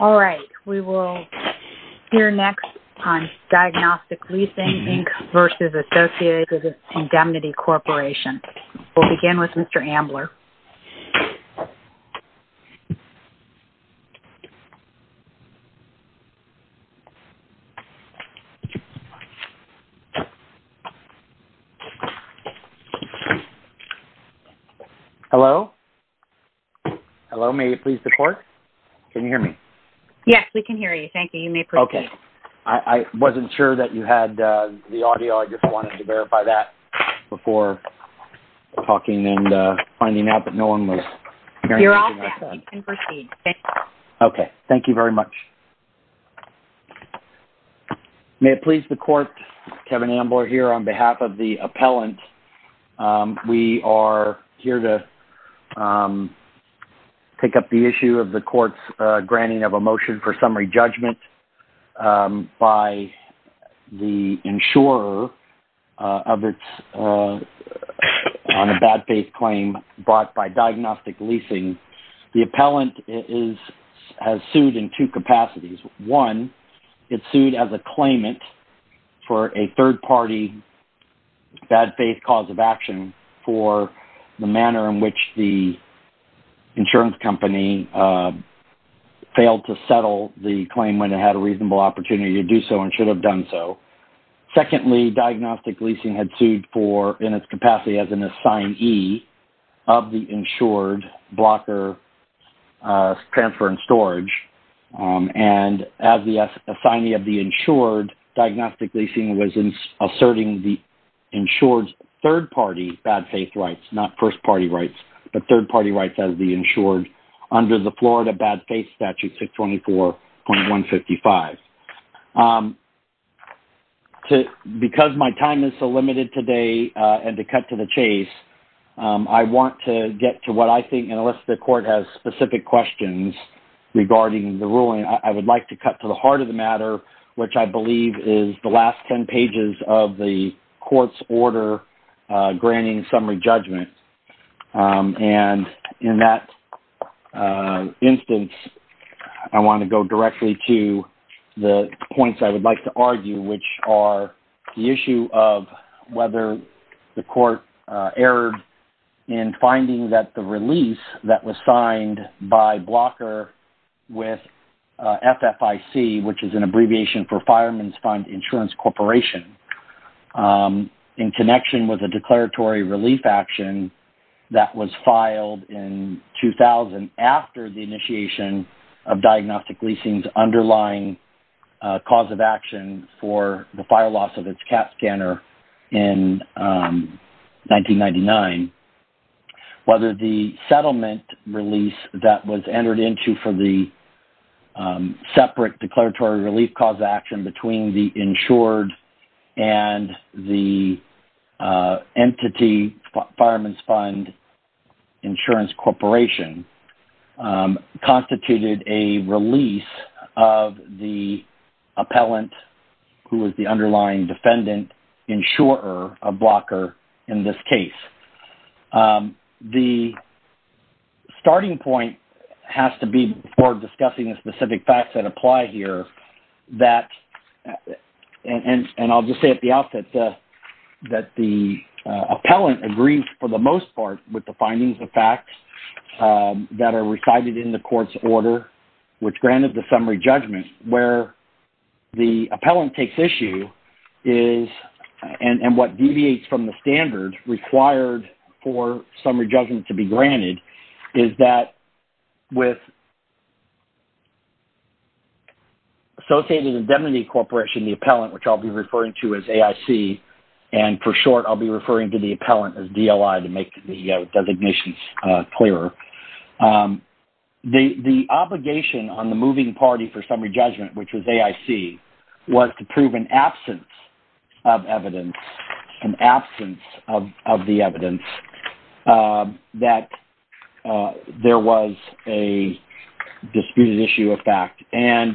All right, we will hear next on Diagnostic Leasing, Inc. v. Associated Indemnity Corporation. We'll begin with Mr. Ambler. Hello? Hello, may you please report? Can you hear me? Yes, we can hear you. Thank you. You may proceed. Okay. I wasn't sure that you had the audio. I just wanted to verify that before talking and finding out that no one was hearing anything I said. You're all set. You can proceed. Thank you. Okay. Thank you very much. May it please the Court, Kevin Ambler here on behalf of the appellant. We are here to take up the issue of the Court's granting of a motion for summary judgment by the insurer on a bad faith claim brought by Diagnostic Leasing. The appellant has sued in two capacities. One, it sued as a claimant for a third-party bad faith cause of action for the manner in which the insurance company failed to settle the claim when it had a reasonable opportunity to do so and should have done so. Secondly, Diagnostic Leasing had sued for, in its capacity, as an assignee of the insured blocker transfer and storage. And as the assignee of the insured, Diagnostic Leasing was asserting the insured's third-party bad faith rights, not first-party rights, but third-party rights as the insured under the Florida Bad Faith Statute 624.155. Because my time is so limited today and to cut to the chase, I want to get to what I think, and unless the Court has specific questions regarding the ruling, I would like to cut to the heart of the matter, which I believe is the last 10 pages of the Court's order granting summary judgment. And in that instance, I want to go directly to the points I would like to argue, which are the issue of whether the Court erred in finding that the release that was signed by blocker with FFIC, which is an abbreviation for Fireman's Fund Insurance Corporation, in connection with a declaratory relief action that was filed in 2000 after the initiation of Diagnostic Leasing's underlying cause of action for the fire loss of its CAT scanner in 1999, whether the settlement release that was entered into for the separate declaratory relief cause of action between the insured and the entity, Fireman's Fund Insurance Corporation, constituted a release of the appellant, who was the underlying defendant, insurer of blocker in this case. The starting point has to be before discussing the specific facts that apply here that, and I'll just say at the outset that the appellant agrees for the most part with the findings of facts that are recited in the Court's order, which granted the summary judgment, where the appellant takes issue is, and what deviates from the standards required for summary judgment to be granted, is that with Associated Indemnity Corporation, the appellant, which I'll be referring to as AIC, and for short, I'll be referring to the appellant as DLI to make the designations clearer. The obligation on the moving party for summary judgment, which was AIC, was to prove an absence of evidence, an absence of the evidence that there was a disputed issue of fact, and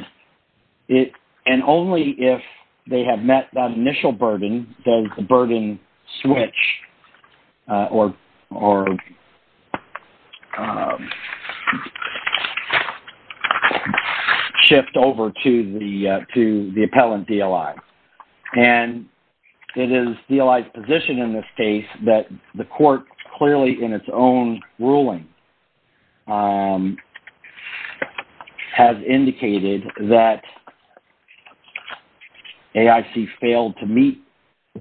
only if they have met that initial burden does the burden switch or shift over to the appellant DLI. It is DLI's position in this case that the Court clearly in its own ruling has indicated that AIC failed to meet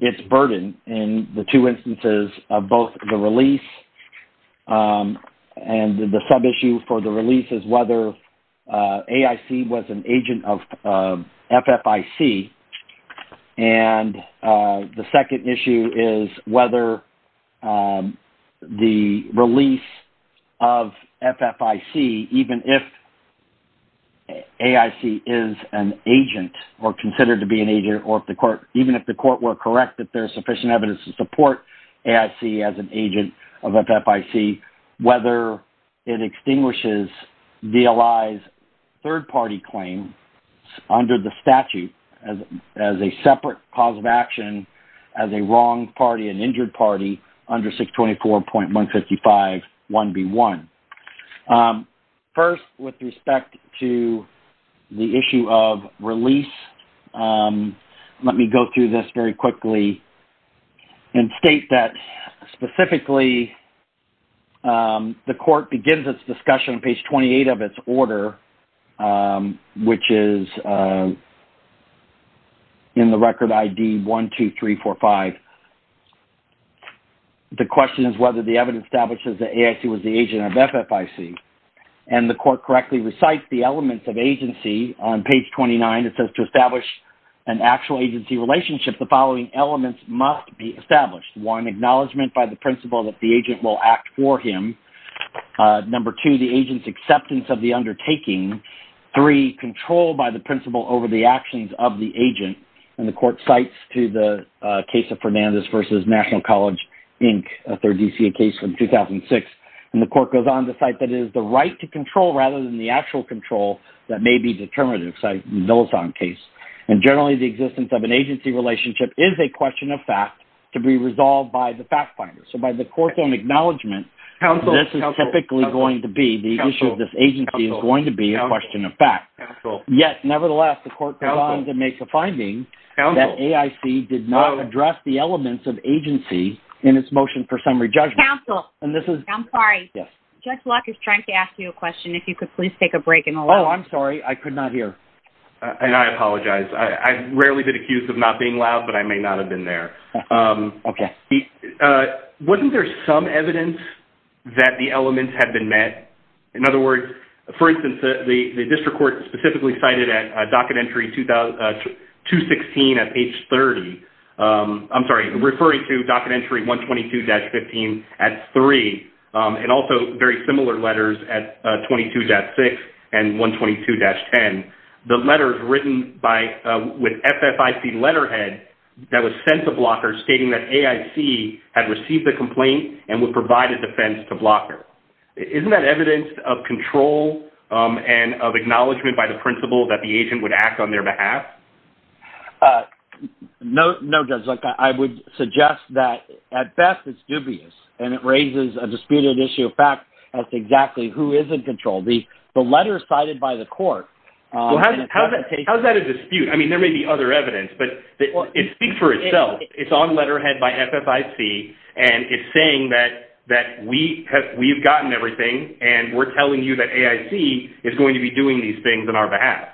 its burden in the two instances of both the sub-issue for the release is whether AIC was an agent of FFIC, and the second issue is whether the release of FFIC, even if AIC is an agent or considered to be an agent, or even if the Court were correct that there's sufficient evidence to support AIC as an agent of FFIC, whether it extinguishes DLI's third-party claim under the statute as a separate cause of action as a wrong party, an injured party, under 624.155 1B1. First, with respect to the issue of release, let me go through this very quickly and state that specifically the Court begins its discussion on page 28 of its order, which is in the record ID 12345. The question is whether the evidence establishes that AIC was the agent of FFIC, and the Court correctly recites the elements of agency on page 29. It says to establish an actual agency relationship, the following elements must be established. One, acknowledgment by the principal that the agent will act for him. Number two, the agent's acceptance of the undertaking. Three, control by the principal over the actions of the agent, and the Court cites to the case of Fernandez v. National College, Inc., a third DCA case from 2006, and the Court goes on to cite that it is the right to control rather than the actual control that may be determinative in the Millicent case. And generally, the existence of an agency relationship is a question of fact to be resolved by the fact finder. So by the Court's own acknowledgment, this is typically going to be, the issue of this agency is going to be a question of fact. Yet, nevertheless, the Court goes on to make a finding that AIC did not address the elements of agency in its motion for summary judgment. I'm sorry, Judge Locke is trying to I'm sorry, I could not hear. And I apologize. I've rarely been accused of not being loud, but I may not have been there. Okay. Wasn't there some evidence that the elements had been met? In other words, for instance, the District Court specifically cited a docket entry 216 at page 30. I'm sorry, referring to docket entry 122-15 at three, and also very similar letters at 22-6 and 122-10. The letters written by with FFIC letterhead that was sent to Blocker stating that AIC had received the complaint and would provide a defense to Blocker. Isn't that evidence of control and of acknowledgement by the principal that the agent would act on their behalf? No, Judge Locke. I would suggest that at best it's dubious, and it raises a disputed issue of fact as to exactly who is in control. The letters cited by the Court... How is that a dispute? I mean, there may be other evidence, but it speaks for itself. It's on letterhead by FFIC, and it's saying that we've gotten everything, and we're telling you that AIC is going to be doing these things on our behalf.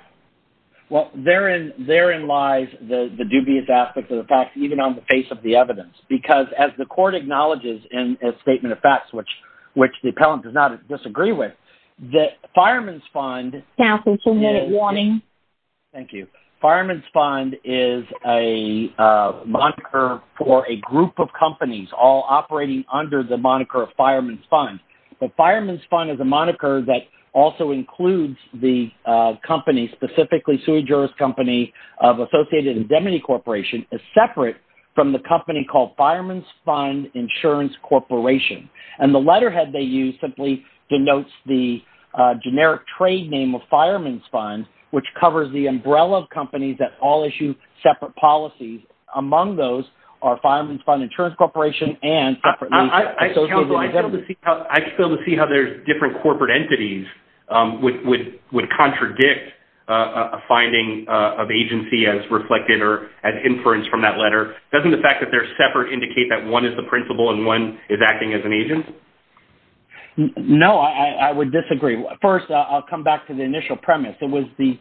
Well, therein lies the dubious aspect of the facts, even on the face of the evidence, because as the Court acknowledges in a statement of facts, which the appellant does not disagree with, that Fireman's Fund... Now for two-minute warning. Thank you. Fireman's Fund is a moniker for a group of companies all operating under the moniker of Fireman's Fund. The Fireman's Fund is a moniker that also includes the company, specifically the sui juris company of Associated Indemnity Corporation, is separate from the company called Fireman's Fund Insurance Corporation. And the letterhead they use simply denotes the generic trade name of Fireman's Fund, which covers the umbrella of companies that all issue separate policies. Among those are Fireman's Fund Insurance Corporation and... I still see how there's different corporate entities would contradict a finding of agency as reflected or as inference from that letter. Doesn't the fact that they're separate indicate that one is the principal and one is acting as an agent? No, I would disagree. First, I'll come back to the initial premise. It was the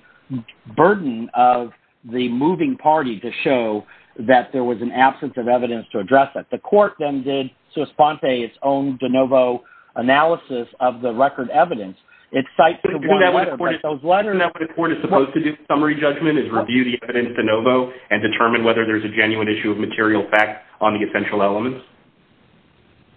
burden of the moving party to show that there was an absence of evidence to address that. The Court then did its own de novo analysis of the record evidence. It cites the one letter, but those letters... Isn't that what the Court is supposed to do in summary judgment, is review the evidence de novo and determine whether there's a genuine issue of material fact on the essential elements?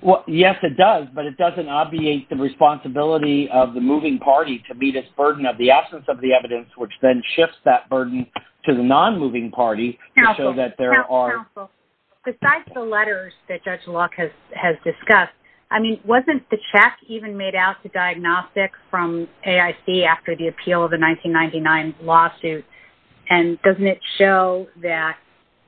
Well, yes, it does, but it doesn't obviate the responsibility of the moving party to meet its burden of the absence of the evidence, which then shifts that burden to the non-moving party to show that there are... I mean, wasn't the check even made out to Diagnostic from AIC after the appeal of the 1999 lawsuit? And doesn't it show that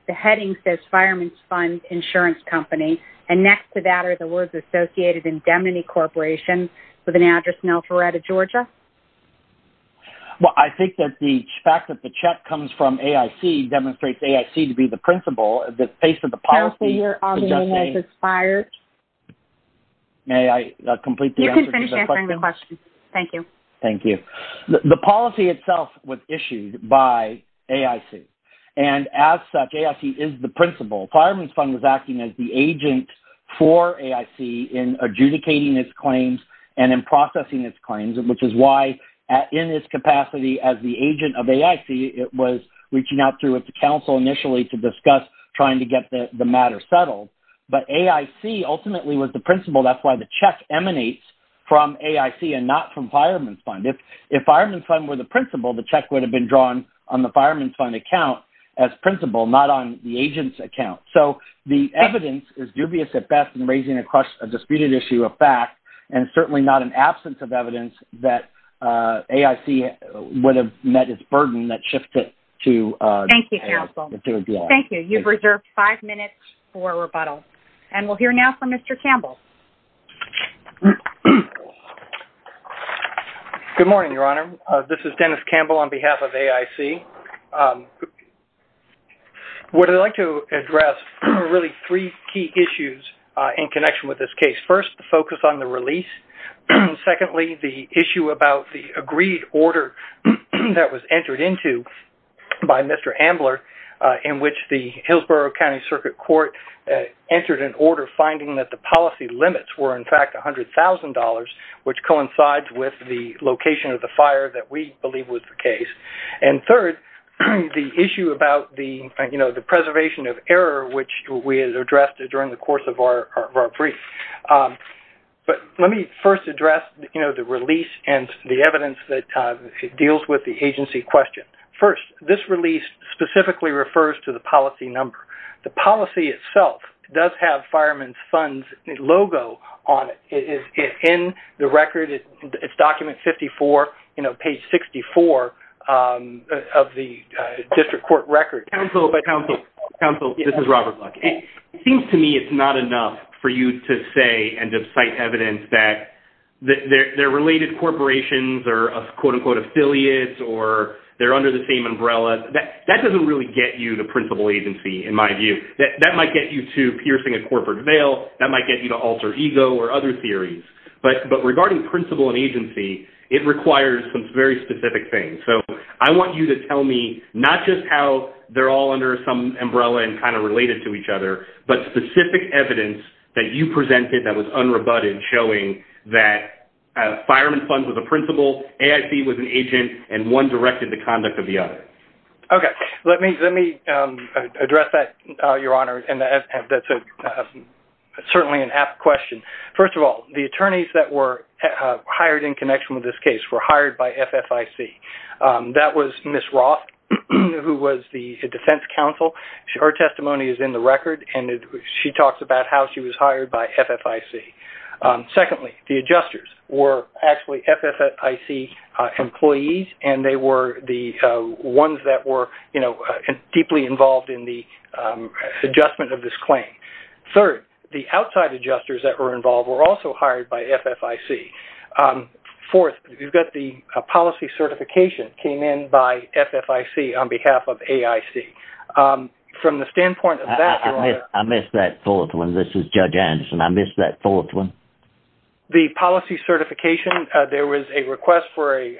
the heading says Fireman's Fund Insurance Company, and next to that are the words associated indemnity corporation with an address in Alpharetta, Georgia? Well, I think that the fact that the check comes from AIC demonstrates AIC to be the principal, the face of the policy... Counselor, your audio has expired. May I complete the answer? You can finish answering the question. Thank you. Thank you. The policy itself was issued by AIC, and as such, AIC is the principal. Fireman's Fund was acting as the agent for AIC in adjudicating its claims and in processing its claims, which is why in its capacity as the agent of AIC, it was reaching out through its counsel initially to discuss trying to get the matter settled. But AIC ultimately was the principal. That's why the check emanates from AIC and not from Fireman's Fund. If Fireman's Fund were the principal, the check would have been drawn on the Fireman's Fund account as principal, not on the agent's account. So the evidence is dubious at best in raising a disputed issue of fact, and certainly not in absence of evidence that AIC would have met its burden that shifted to... Thank you, Counsel. Thank you. You've reserved five minutes for rebuttal, and we'll hear now from Mr. Campbell. Good morning, Your Honor. This is Dennis Campbell on behalf of AIC. What I'd like to address are really three key issues in connection with this case. First, the focus on the release. Secondly, the issue about the agreed order that was entered into by Mr. Ambler, in which the Hillsborough County Circuit Court entered an order finding that the policy limits were in fact $100,000, which coincides with the location of the fire that we believe was the case. And third, the issue about the preservation of error, which we addressed during the course of our brief. But let me first address the release and the evidence that deals with the agency question. First, this release specifically refers to the policy number. The policy itself does have Fireman's Fund's logo on it. It's in the record. It's document 54, you know, page 64 of the district court record. Counsel, this is Robert Buck. It seems to me it's not enough for you to say and to cite evidence that they're related corporations or, quote, unquote, affiliates or they're under the same umbrella. That doesn't really get you the principal agency, in my view. That might get you to piercing a corporate veil. That might get you to alter ego or other theories. But regarding principal and agency, it requires some very specific things. So I want you to tell me not just how they're all under some umbrella and kind of evidence that you presented that was unrebutted showing that Fireman's Fund was a principal, AIC was an agent, and one directed the conduct of the other. Okay. Let me address that, Your Honor. And that's certainly an apt question. First of all, the attorneys that were hired in connection with this case were hired by FFIC. That was Ms. Roth, who was the defense counsel. Her testimony is in the record, and she talks about how she was hired by FFIC. Secondly, the adjusters were actually FFIC employees, and they were the ones that were deeply involved in the adjustment of this claim. Third, the outside adjusters that were involved were also hired by FFIC. Fourth, you've got the policy certification came in by FFIC on behalf of AIC. From the standpoint of that... I missed that fourth one. This is Judge Anderson. I missed that fourth one. The policy certification, there was a request for a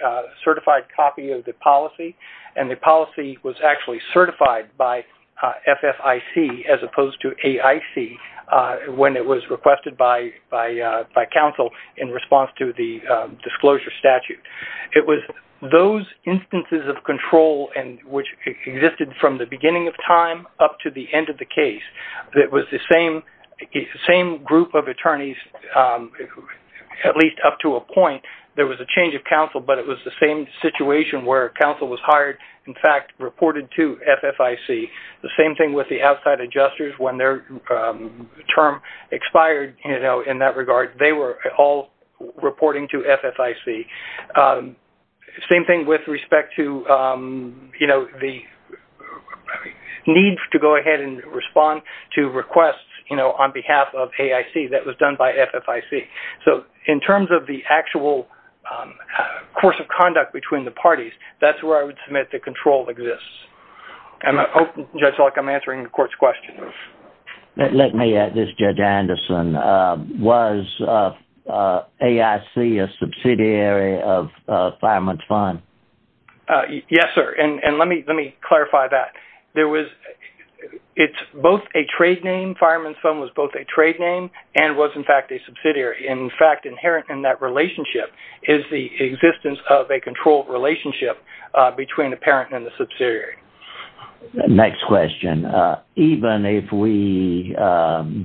certified copy of the policy, and the policy was actually certified by FFIC as opposed to AIC when it was requested by counsel in response to the disclosure statute. It was those instances of control which existed from the beginning of time up to the end of the case. It was the same group of attorneys, at least up to a point. There was a change of counsel, but it was the same situation where counsel was hired, in fact, reported to FFIC. The same thing with the outside adjusters when their term expired in that regard. They were all reporting to FFIC. Same thing with respect to the need to go ahead and respond to requests on behalf of AIC that was done by FFIC. In terms of the actual course of conduct between the parties, that's where I would submit the control exists. Judge Elk, I'm answering the court's question. Let me add this, Judge Anderson. Was AIC a subsidiary of Fireman's Fund? Yes, sir. Let me clarify that. It's both a trade name. Fireman's Fund was both a trade name and was, in fact, a subsidiary. In fact, inherent in that relationship is the existence of a controlled relationship between the parent and the subsidiary. Next question. Even if we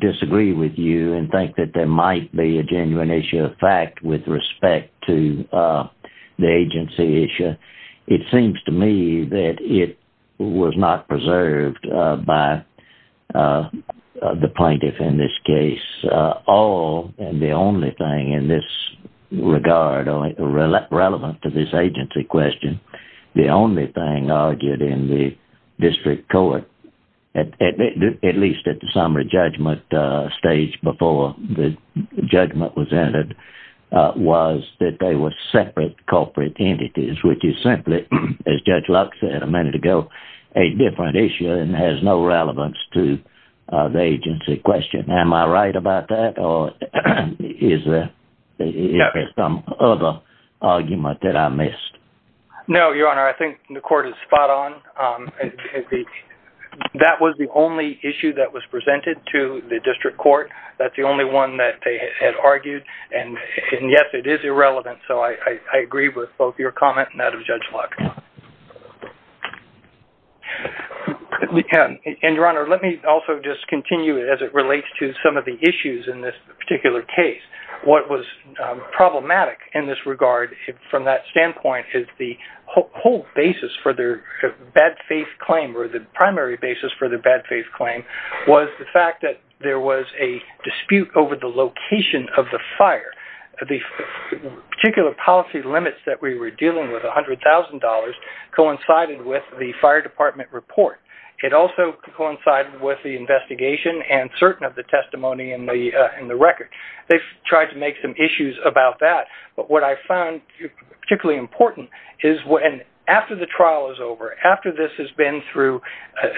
disagree with you and think that there might be a genuine issue of fact with respect to the agency issue, it seems to me that it was not preserved by the plaintiff in this case. All and the only thing in this regard, relevant to this agency question, the only thing argued in the district court, at least at the summary judgment stage before the judgment was entered, was that they were separate corporate entities, which is simply, as Judge Lux said a minute ago, a different issue and has no relevance to the agency question. Am I right about that or is there some other argument that I missed? No, Your Honor. I think the court is spot on. That was the only issue that was presented to the district court. That's the only one that they had argued and, yes, it is irrelevant, so I agree with both your comment and that of Judge Lux. And, Your Honor, let me also just continue as it relates to some of the issues in this particular case. What was problematic in this regard from that standpoint is the whole basis for their bad faith claim or the primary basis for the bad faith claim was the fact that there was a dispute over the location of the fire. The particular policy limits that we were dealing with, $100,000, coincided with the fire department report. It also coincided with the investigation and certain of the testimony in the record. They've tried to make some issues about that, but what I found particularly important is when after the trial is over, after this has been through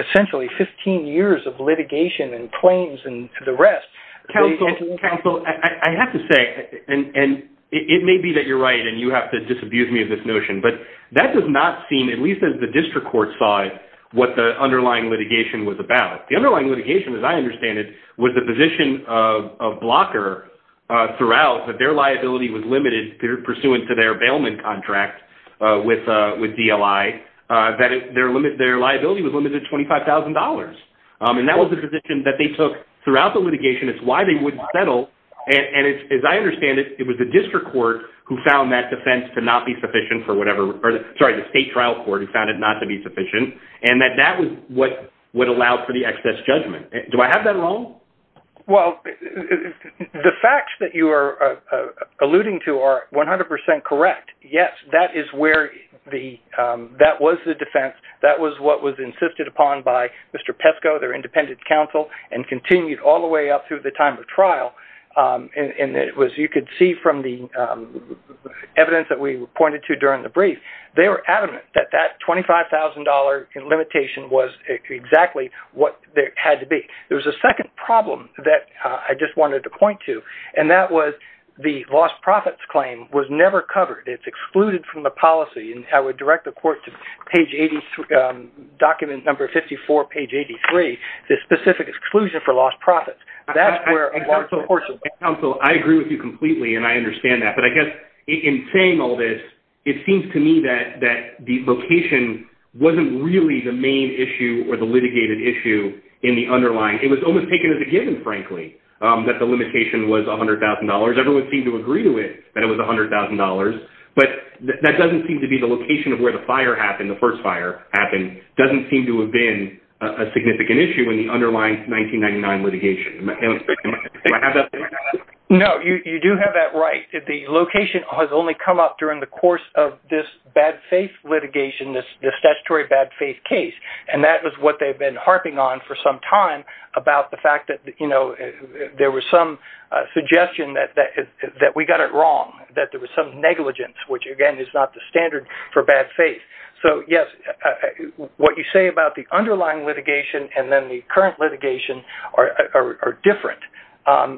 essentially 15 years of litigation and claims and the rest... Counsel, I have to say, and it may be that you're right and you have to disabuse me of this notion, but that does not seem, at least as the district court side, what the underlying litigation was about. The underlying litigation, as I understand it, was the position of Blocker throughout that liability was limited pursuant to their bailment contract with DLI, that their liability was limited to $25,000. That was the position that they took throughout the litigation. It's why they wouldn't settle. As I understand it, it was the district court who found that defense to not be sufficient for whatever... Sorry, the state trial court who found it not to be sufficient and that that was what would allow for the excess judgment. Do I have that wrong? Well, the facts that you are alluding to are 100% correct. Yes, that was the defense. That was what was insisted upon by Mr. Pesco, their independent counsel, and continued all the way up through the time of trial. You could see from the evidence that we pointed to during the brief, they were $25,000 limitation was exactly what it had to be. There was a second problem that I just wanted to point to, and that was the lost profits claim was never covered. It's excluded from the policy, and I would direct the court to page 83, document number 54, page 83, the specific exclusion for lost profits. That's where... Counsel, I agree with you completely, and I understand that, but I guess in saying all this, it seems to me that the location wasn't really the main issue or the litigated issue in the underlying. It was almost taken as a given, frankly, that the limitation was $100,000. Everyone seemed to agree to it that it was $100,000, but that doesn't seem to be the location of where the fire happened, the first fire happened, doesn't seem to have been a significant issue in the underlying 1999 litigation. Do I have that? No, you do have that right. The location has only come up during the course of this bad faith litigation, this statutory bad faith case, and that is what they've been harping on for some time about the fact that there was some suggestion that we got it wrong, that there was some negligence, which again is not the standard for bad faith. So yes, what you say about the underlying litigation and then the current litigation are different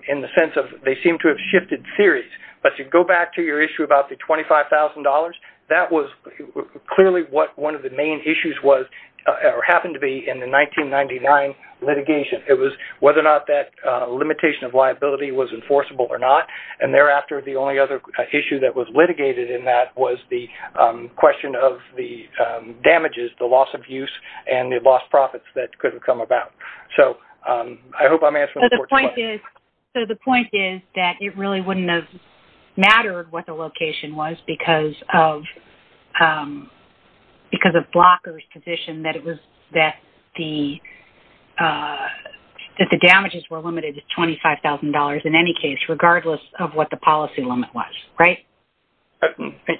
in the sense of they seem to have shifted theories. But you go back to your issue about the $25,000, that was clearly what one of the main issues was or happened to be in the 1999 litigation. It was whether or not that limitation of liability was enforceable or not, and thereafter, the only other issue that was litigated in that was the question of the damages, the loss of use, and the lost profits that could have come about. So I hope I'm answering the question. So the point is that it really wouldn't have mattered what the location was because of blockers' position that the damages were limited to $25,000 in any case, regardless of what the policy limit was, right?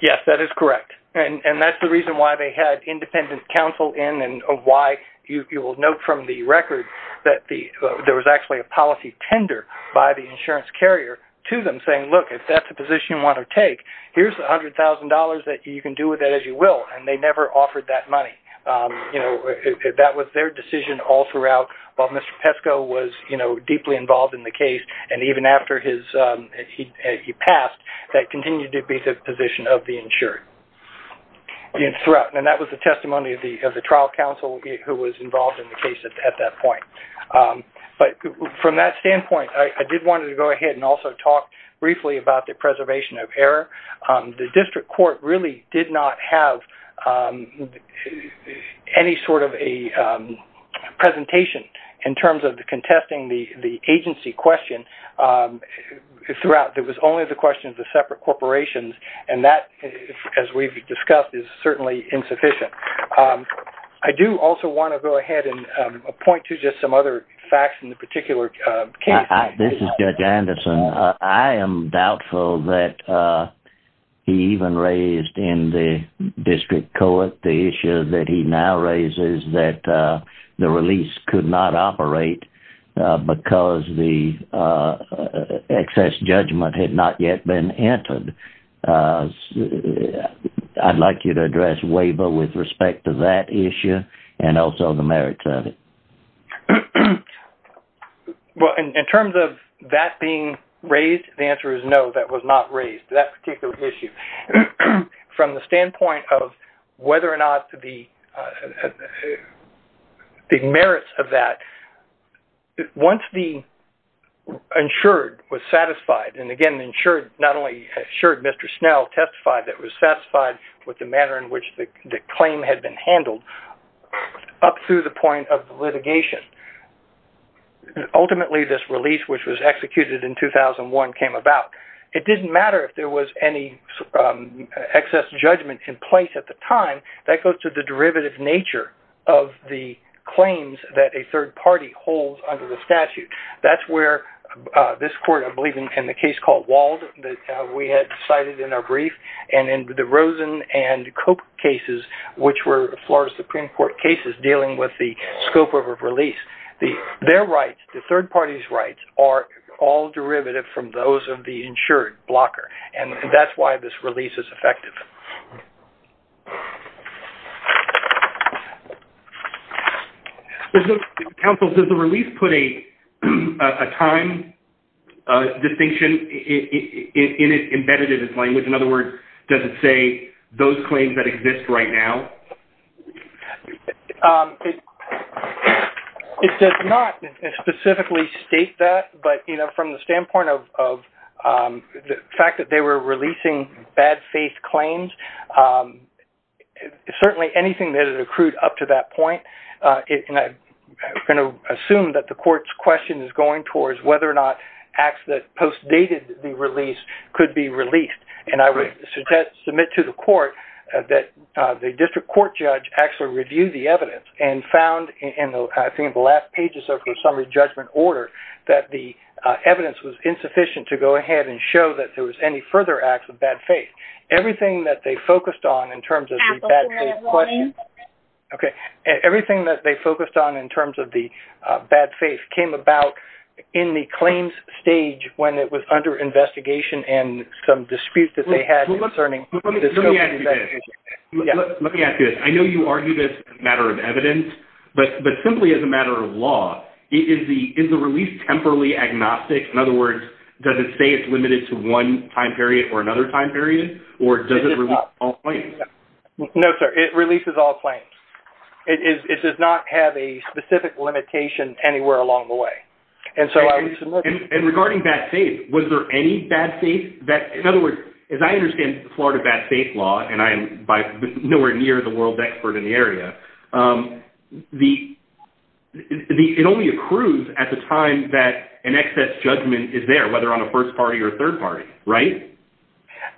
Yes, that is correct. And that's the reason why they had independent counsel in and why you will note from the record that there was actually a policy tender by the insurance carrier to them saying, look, if that's the position you want to take, here's the $100,000 that you can do with it as you will. And they never offered that money. That was their decision all throughout while Mr. Pesco was deeply involved in the case. And even after he passed, that continued to be the position of the insured. And that was the testimony of the trial counsel who was involved in the case at that point. But from that standpoint, I did want to go ahead and also talk briefly about the preservation of error. The district court really did not have any sort of a presentation in terms of the contesting the agency question throughout. It was only the question of the separate corporations. And that, as we've discussed, is certainly insufficient. I do also want to go ahead and point to just some other facts in the particular case. This is Judge Anderson. I am doubtful that he even raised in the district court the issue that he now raises that the release could not operate because the excess judgment had not yet been entered. I'd like you to address Waver with respect to that issue and also the merits of it. Well, in terms of that being raised, the answer is no, that was not raised, that particular issue. From the standpoint of whether or not the merits of that, once the insured was satisfied, and again, the insured not only assured Mr. Snell testified that it was satisfied with the manner in which the claim had been handled, up through the point of litigation. Ultimately, this release, which was executed in 2001, came about. It didn't matter if there was any excess judgment in place at the time, that goes to the derivative nature of the claims that a third party holds under the statute. That's where this court, I believe in the case called Wald that we had cited in our brief, and in the Rosen and Cope cases, which were Florida Supreme Court cases dealing with the scope of a release, their rights, the third party's rights, are all derivative from those of the insured blocker, and that's why this release is effective. Counsel, does the release put a time distinction embedded in its language? In other words, does it say those claims that exist right now? It does not specifically state that, but from the standpoint of the fact that they were releasing bad faith claims, certainly anything that had accrued up to that point, and I'm going to assume that the court's question is going towards whether or not acts that postdated the release could be released, and I would submit to the court that the district court judge actually reviewed the evidence and found, I think in the last pages of her summary judgment order, that the evidence was insufficient to go ahead and show that there Everything that they focused on in terms of the bad faith came about in the claims stage when it was under investigation and some disputes that they had concerning the scope of the investigation. Let me ask you this. I know you argued it's a matter of evidence, but simply as a matter of law, is the release temporally agnostic? In other words, does it say it's limited to one time period or another time period, or does it release all claims? No, sir. It releases all claims. It does not have a specific limitation anywhere along the way. And regarding bad faith, was there any bad faith that, in other words, as I understand Florida bad faith law, and I am nowhere near the world's expert in the area, it only accrues at the time that an excess judgment is there, whether on a first party or third party, right?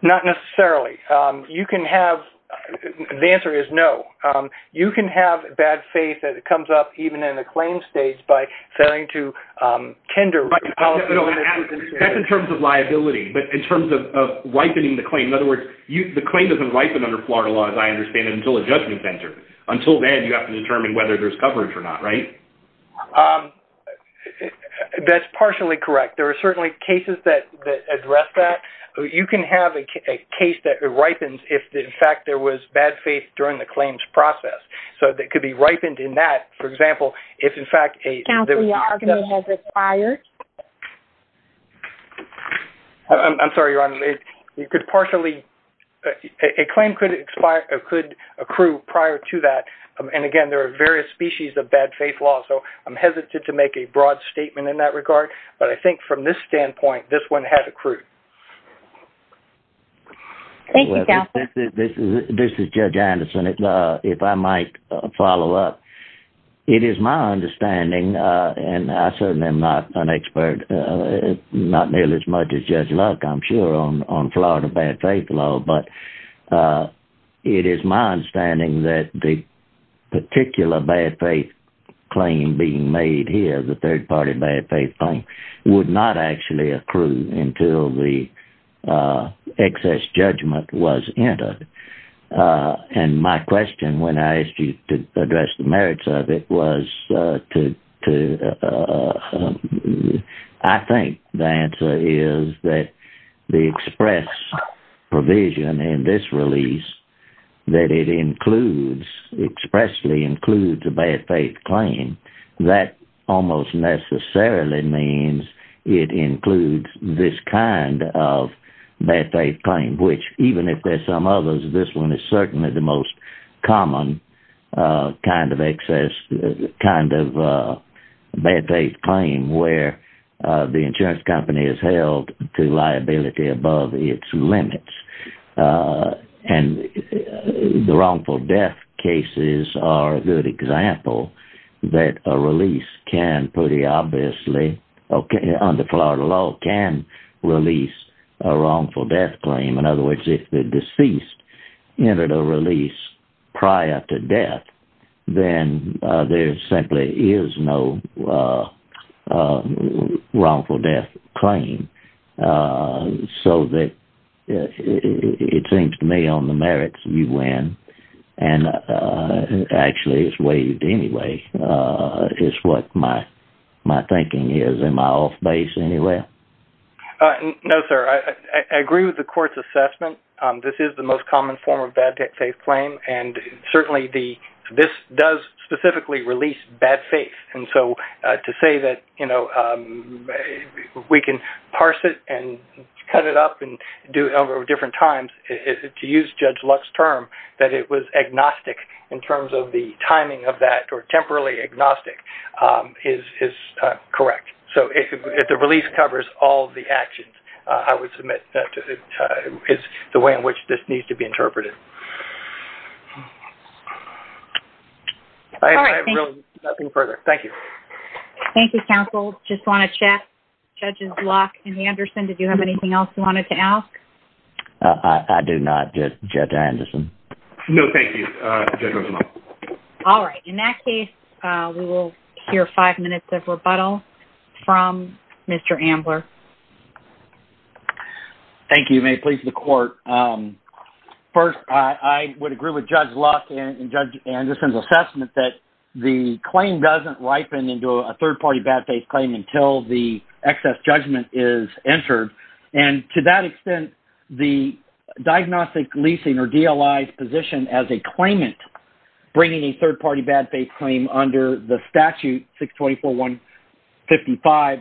Not necessarily. The answer is no. You can have bad faith that comes up even in the claims stage by failing to tender. That's in terms of liability, but in terms of ripening the claim. In other words, the claim doesn't ripen under Florida law, as I understand it, until a judgment is entered. Until then, you have to determine whether there's coverage or not, right? Right. That's partially correct. There are certainly cases that address that. You can have a case that ripens if, in fact, there was bad faith during the claims process. So that could be ripened in that, for example, if, in fact, a- Counsel, your argument has expired. I'm sorry, Your Honor. A claim could accrue prior to that. And again, there are various species of bad faith law, so I'm hesitant to make a broad statement in that regard. But I think from this standpoint, this one has accrued. Thank you, Counsel. This is Judge Anderson. If I might follow up, it is my understanding, and I certainly am not an expert, not nearly as much as Judge Luck, I'm sure, on Florida bad faith law. But it is my understanding that the particular bad faith claim being made here, the third-party bad faith claim, would not actually accrue until the excess judgment was entered. And my question when I asked you to address the merits of it was to- I think the answer is that the express provision in this release that it includes, expressly includes a bad faith claim, that almost necessarily means it includes this kind of bad faith claim, which, even if there's some others, this one is certainly the most common kind of excess, kind of bad faith claim where the insurance company is held to and the wrongful death cases are a good example that a release can pretty obviously, under Florida law, can release a wrongful death claim. In other words, if the deceased entered a release prior to death, then there simply is no wrongful death claim. So that it seems to me on the merits you win, and actually it's waived anyway, is what my thinking is, am I off base anywhere? No, sir. I agree with the court's assessment. This is the most common form of bad faith claim, and certainly this does specifically release bad faith. And so to say that, you know, we can parse it and cut it up and do it over different times, to use Judge Luck's term, that it was agnostic in terms of the timing of that, or temporarily agnostic, is correct. So if the release covers all the actions, I would submit that is the way in which this needs to be interpreted. All right. Thank you. Nothing further. Thank you. Thank you, counsel. Just want to check. Judges Luck and Anderson, did you have anything else you wanted to ask? I do not, Judge Anderson. No, thank you. All right. In that case, we will hear five minutes of rebuttal from Mr. Ambler. Thank you. May it please the court. First, I would agree with Judge Luck and Judge Anderson's the claim does not ripen into a third-party bad faith claim until the excess judgment is entered. And to that extent, the diagnostic leasing or DLI's position as a claimant bringing a third-party bad faith claim under the statute 624.155,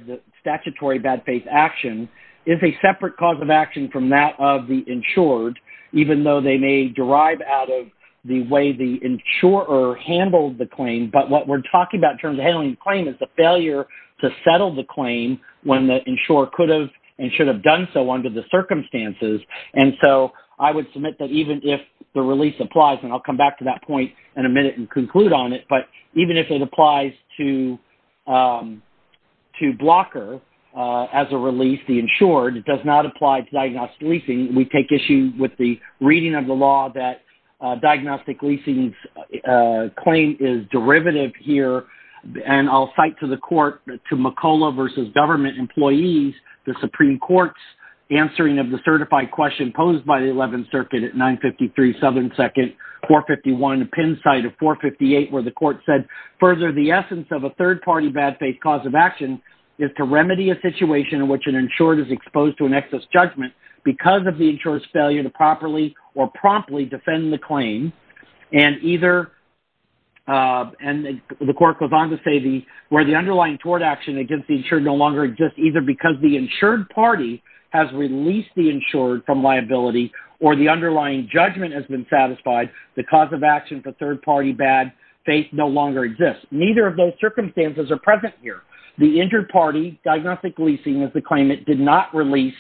the statutory bad faith action, is a separate cause of action from that of the insured, even though they may derive out of the way the insurer handled the claim. But what we're talking about in terms of handling the claim is the failure to settle the claim when the insurer could have and should have done so under the circumstances. And so I would submit that even if the release applies, and I'll come back to that point in a minute and conclude on it, but even if it applies to blocker as a release, the insured, it does not apply to diagnostic leasing. We take issue with the reading of the law that diagnostic leasing's claim is derivative here. And I'll cite to the court, to McCullough versus government employees, the Supreme Court's answering of the certified question posed by the 11th Circuit at 953 Southern 2nd, 451, a pin site of 458, where the court said, further, the essence of a third-party bad faith cause of action is to remedy a situation in which an insured is exposed to an excess judgment because of the insurer's failure to properly or promptly defend the claim. And either, and the court goes on to say, where the underlying tort action against the insured no longer exists, either because the insured party has released the insured from liability, or the underlying judgment has been satisfied, the cause of action for third-party bad faith no longer exists. Neither of those circumstances are present here. The injured party, diagnostic leasing is the claim that did not release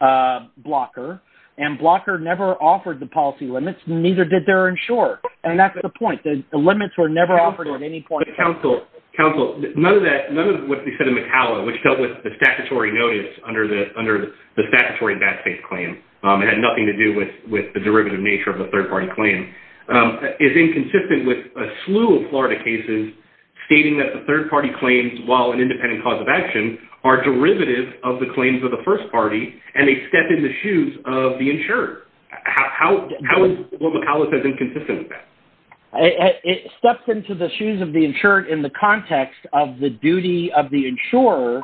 Blocker, and Blocker never offered the policy limits, neither did their insurer. And that's the point, the limits were never offered at any point. Counsel, none of that, none of what they said in McCullough, which dealt with the statutory notice under the statutory bad faith claim, it had nothing to do with the derivative nature of the third-party claim, is inconsistent with a slew of Florida cases stating that the third-party claims, while an independent cause of action, are derivative of the claims of the first party, and they step in the shoes of the insured. How is what McCullough says inconsistent with that? It steps into the shoes of the insured in the context of the duty of the insurer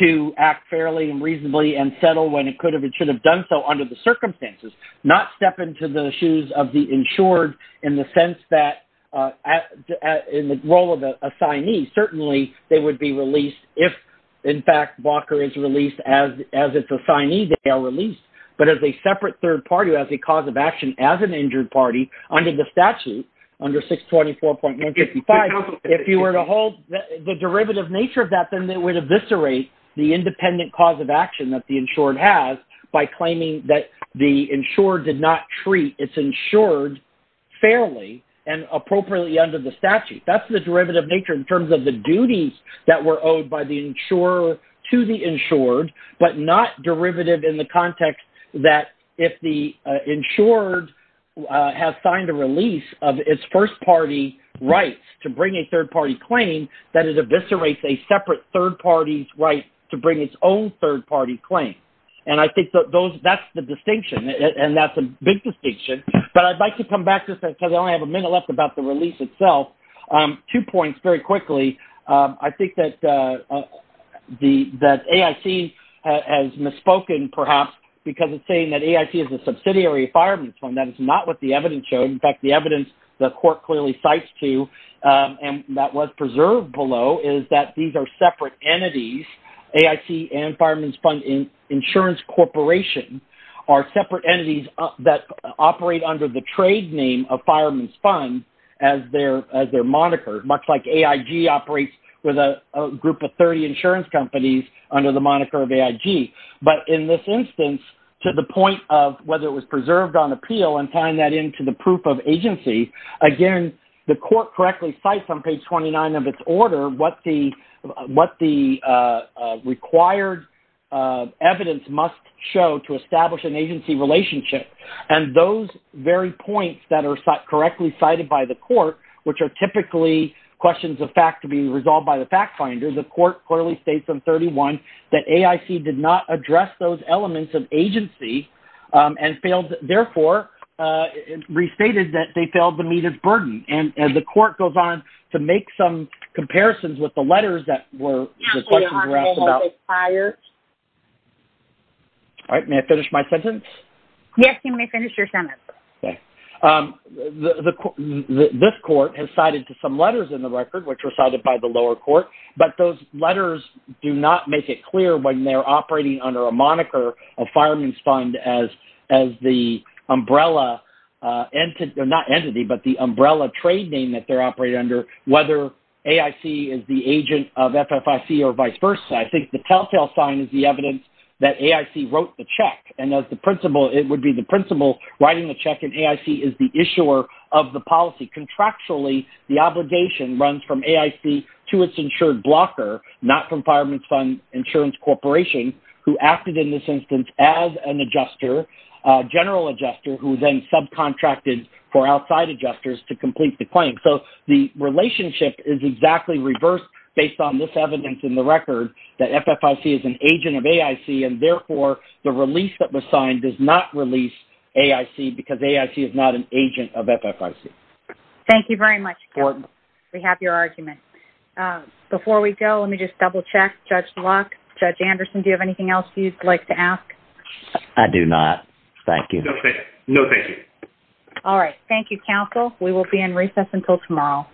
to act fairly and reasonably and settle when it could have, it should have done so under the circumstances, not step into the shoes of the insured in the sense that, in the role of the assignee, certainly they would be released if, in fact, Blocker is released as its assignee, they are released. But as a separate third party, as a cause of action, as an injured party, under the statute, under 624.955, if you were to hold the derivative nature of that, then they would eviscerate the independent cause of action that the insured has by claiming that the insured did not treat its insured fairly and appropriately under the statute. That's the derivative nature in terms of the duties that were owed by the insurer to the insured, but not derivative in the context that if the insured has signed a release of its first party rights to bring a third-party claim, that it eviscerates a separate third party's right to bring its own third-party claim. And I think that those, that's the distinction, and that's a big distinction. But I'd like to come back to that because I only have a minute left about the release itself. Two points very quickly. I think that the, that AIC has misspoken perhaps because it's saying that AIC is a subsidiary of Fireman's Fund. That is not what the evidence showed. In fact, the evidence the below is that these are separate entities, AIC and Fireman's Fund Insurance Corporation are separate entities that operate under the trade name of Fireman's Fund as their moniker, much like AIG operates with a group of 30 insurance companies under the moniker of AIG. But in this instance, to the point of whether it was preserved on appeal and tying that into the order what the required evidence must show to establish an agency relationship. And those very points that are correctly cited by the court, which are typically questions of fact to be resolved by the fact finder, the court clearly states in 31 that AIC did not address those elements of agency and failed, therefore restated that they failed to meet its burden. And the court goes on to make some comparisons with the letters that were asked about. All right, may I finish my sentence? Yes, you may finish your sentence. This court has cited to some letters in the record, which were cited by the lower court, but those letters do not make it clear when they're operating under a moniker of Fireman's Fund, not entity, but the umbrella trade name that they're operating under, whether AIC is the agent of FFIC or vice versa. I think the telltale sign is the evidence that AIC wrote the check and it would be the principal writing the check and AIC is the issuer of the policy. Contractually, the obligation runs from AIC to its insured blocker, not from Fireman's Fund Insurance Corporation, who acted in this instance as an adjuster, general adjuster, who then subcontracted for outside adjusters to complete the claim. So, the relationship is exactly reversed based on this evidence in the record that FFIC is an agent of AIC and therefore the release that was signed does not release AIC because AIC is not an agent of FFIC. Thank you very much. We have your argument. Before we go, let me just double check. Judge Locke, Judge Anderson, do you have anything else you'd like to ask? I do not. Thank you. No, thank you. All right. Thank you, counsel. We will be in recess until tomorrow.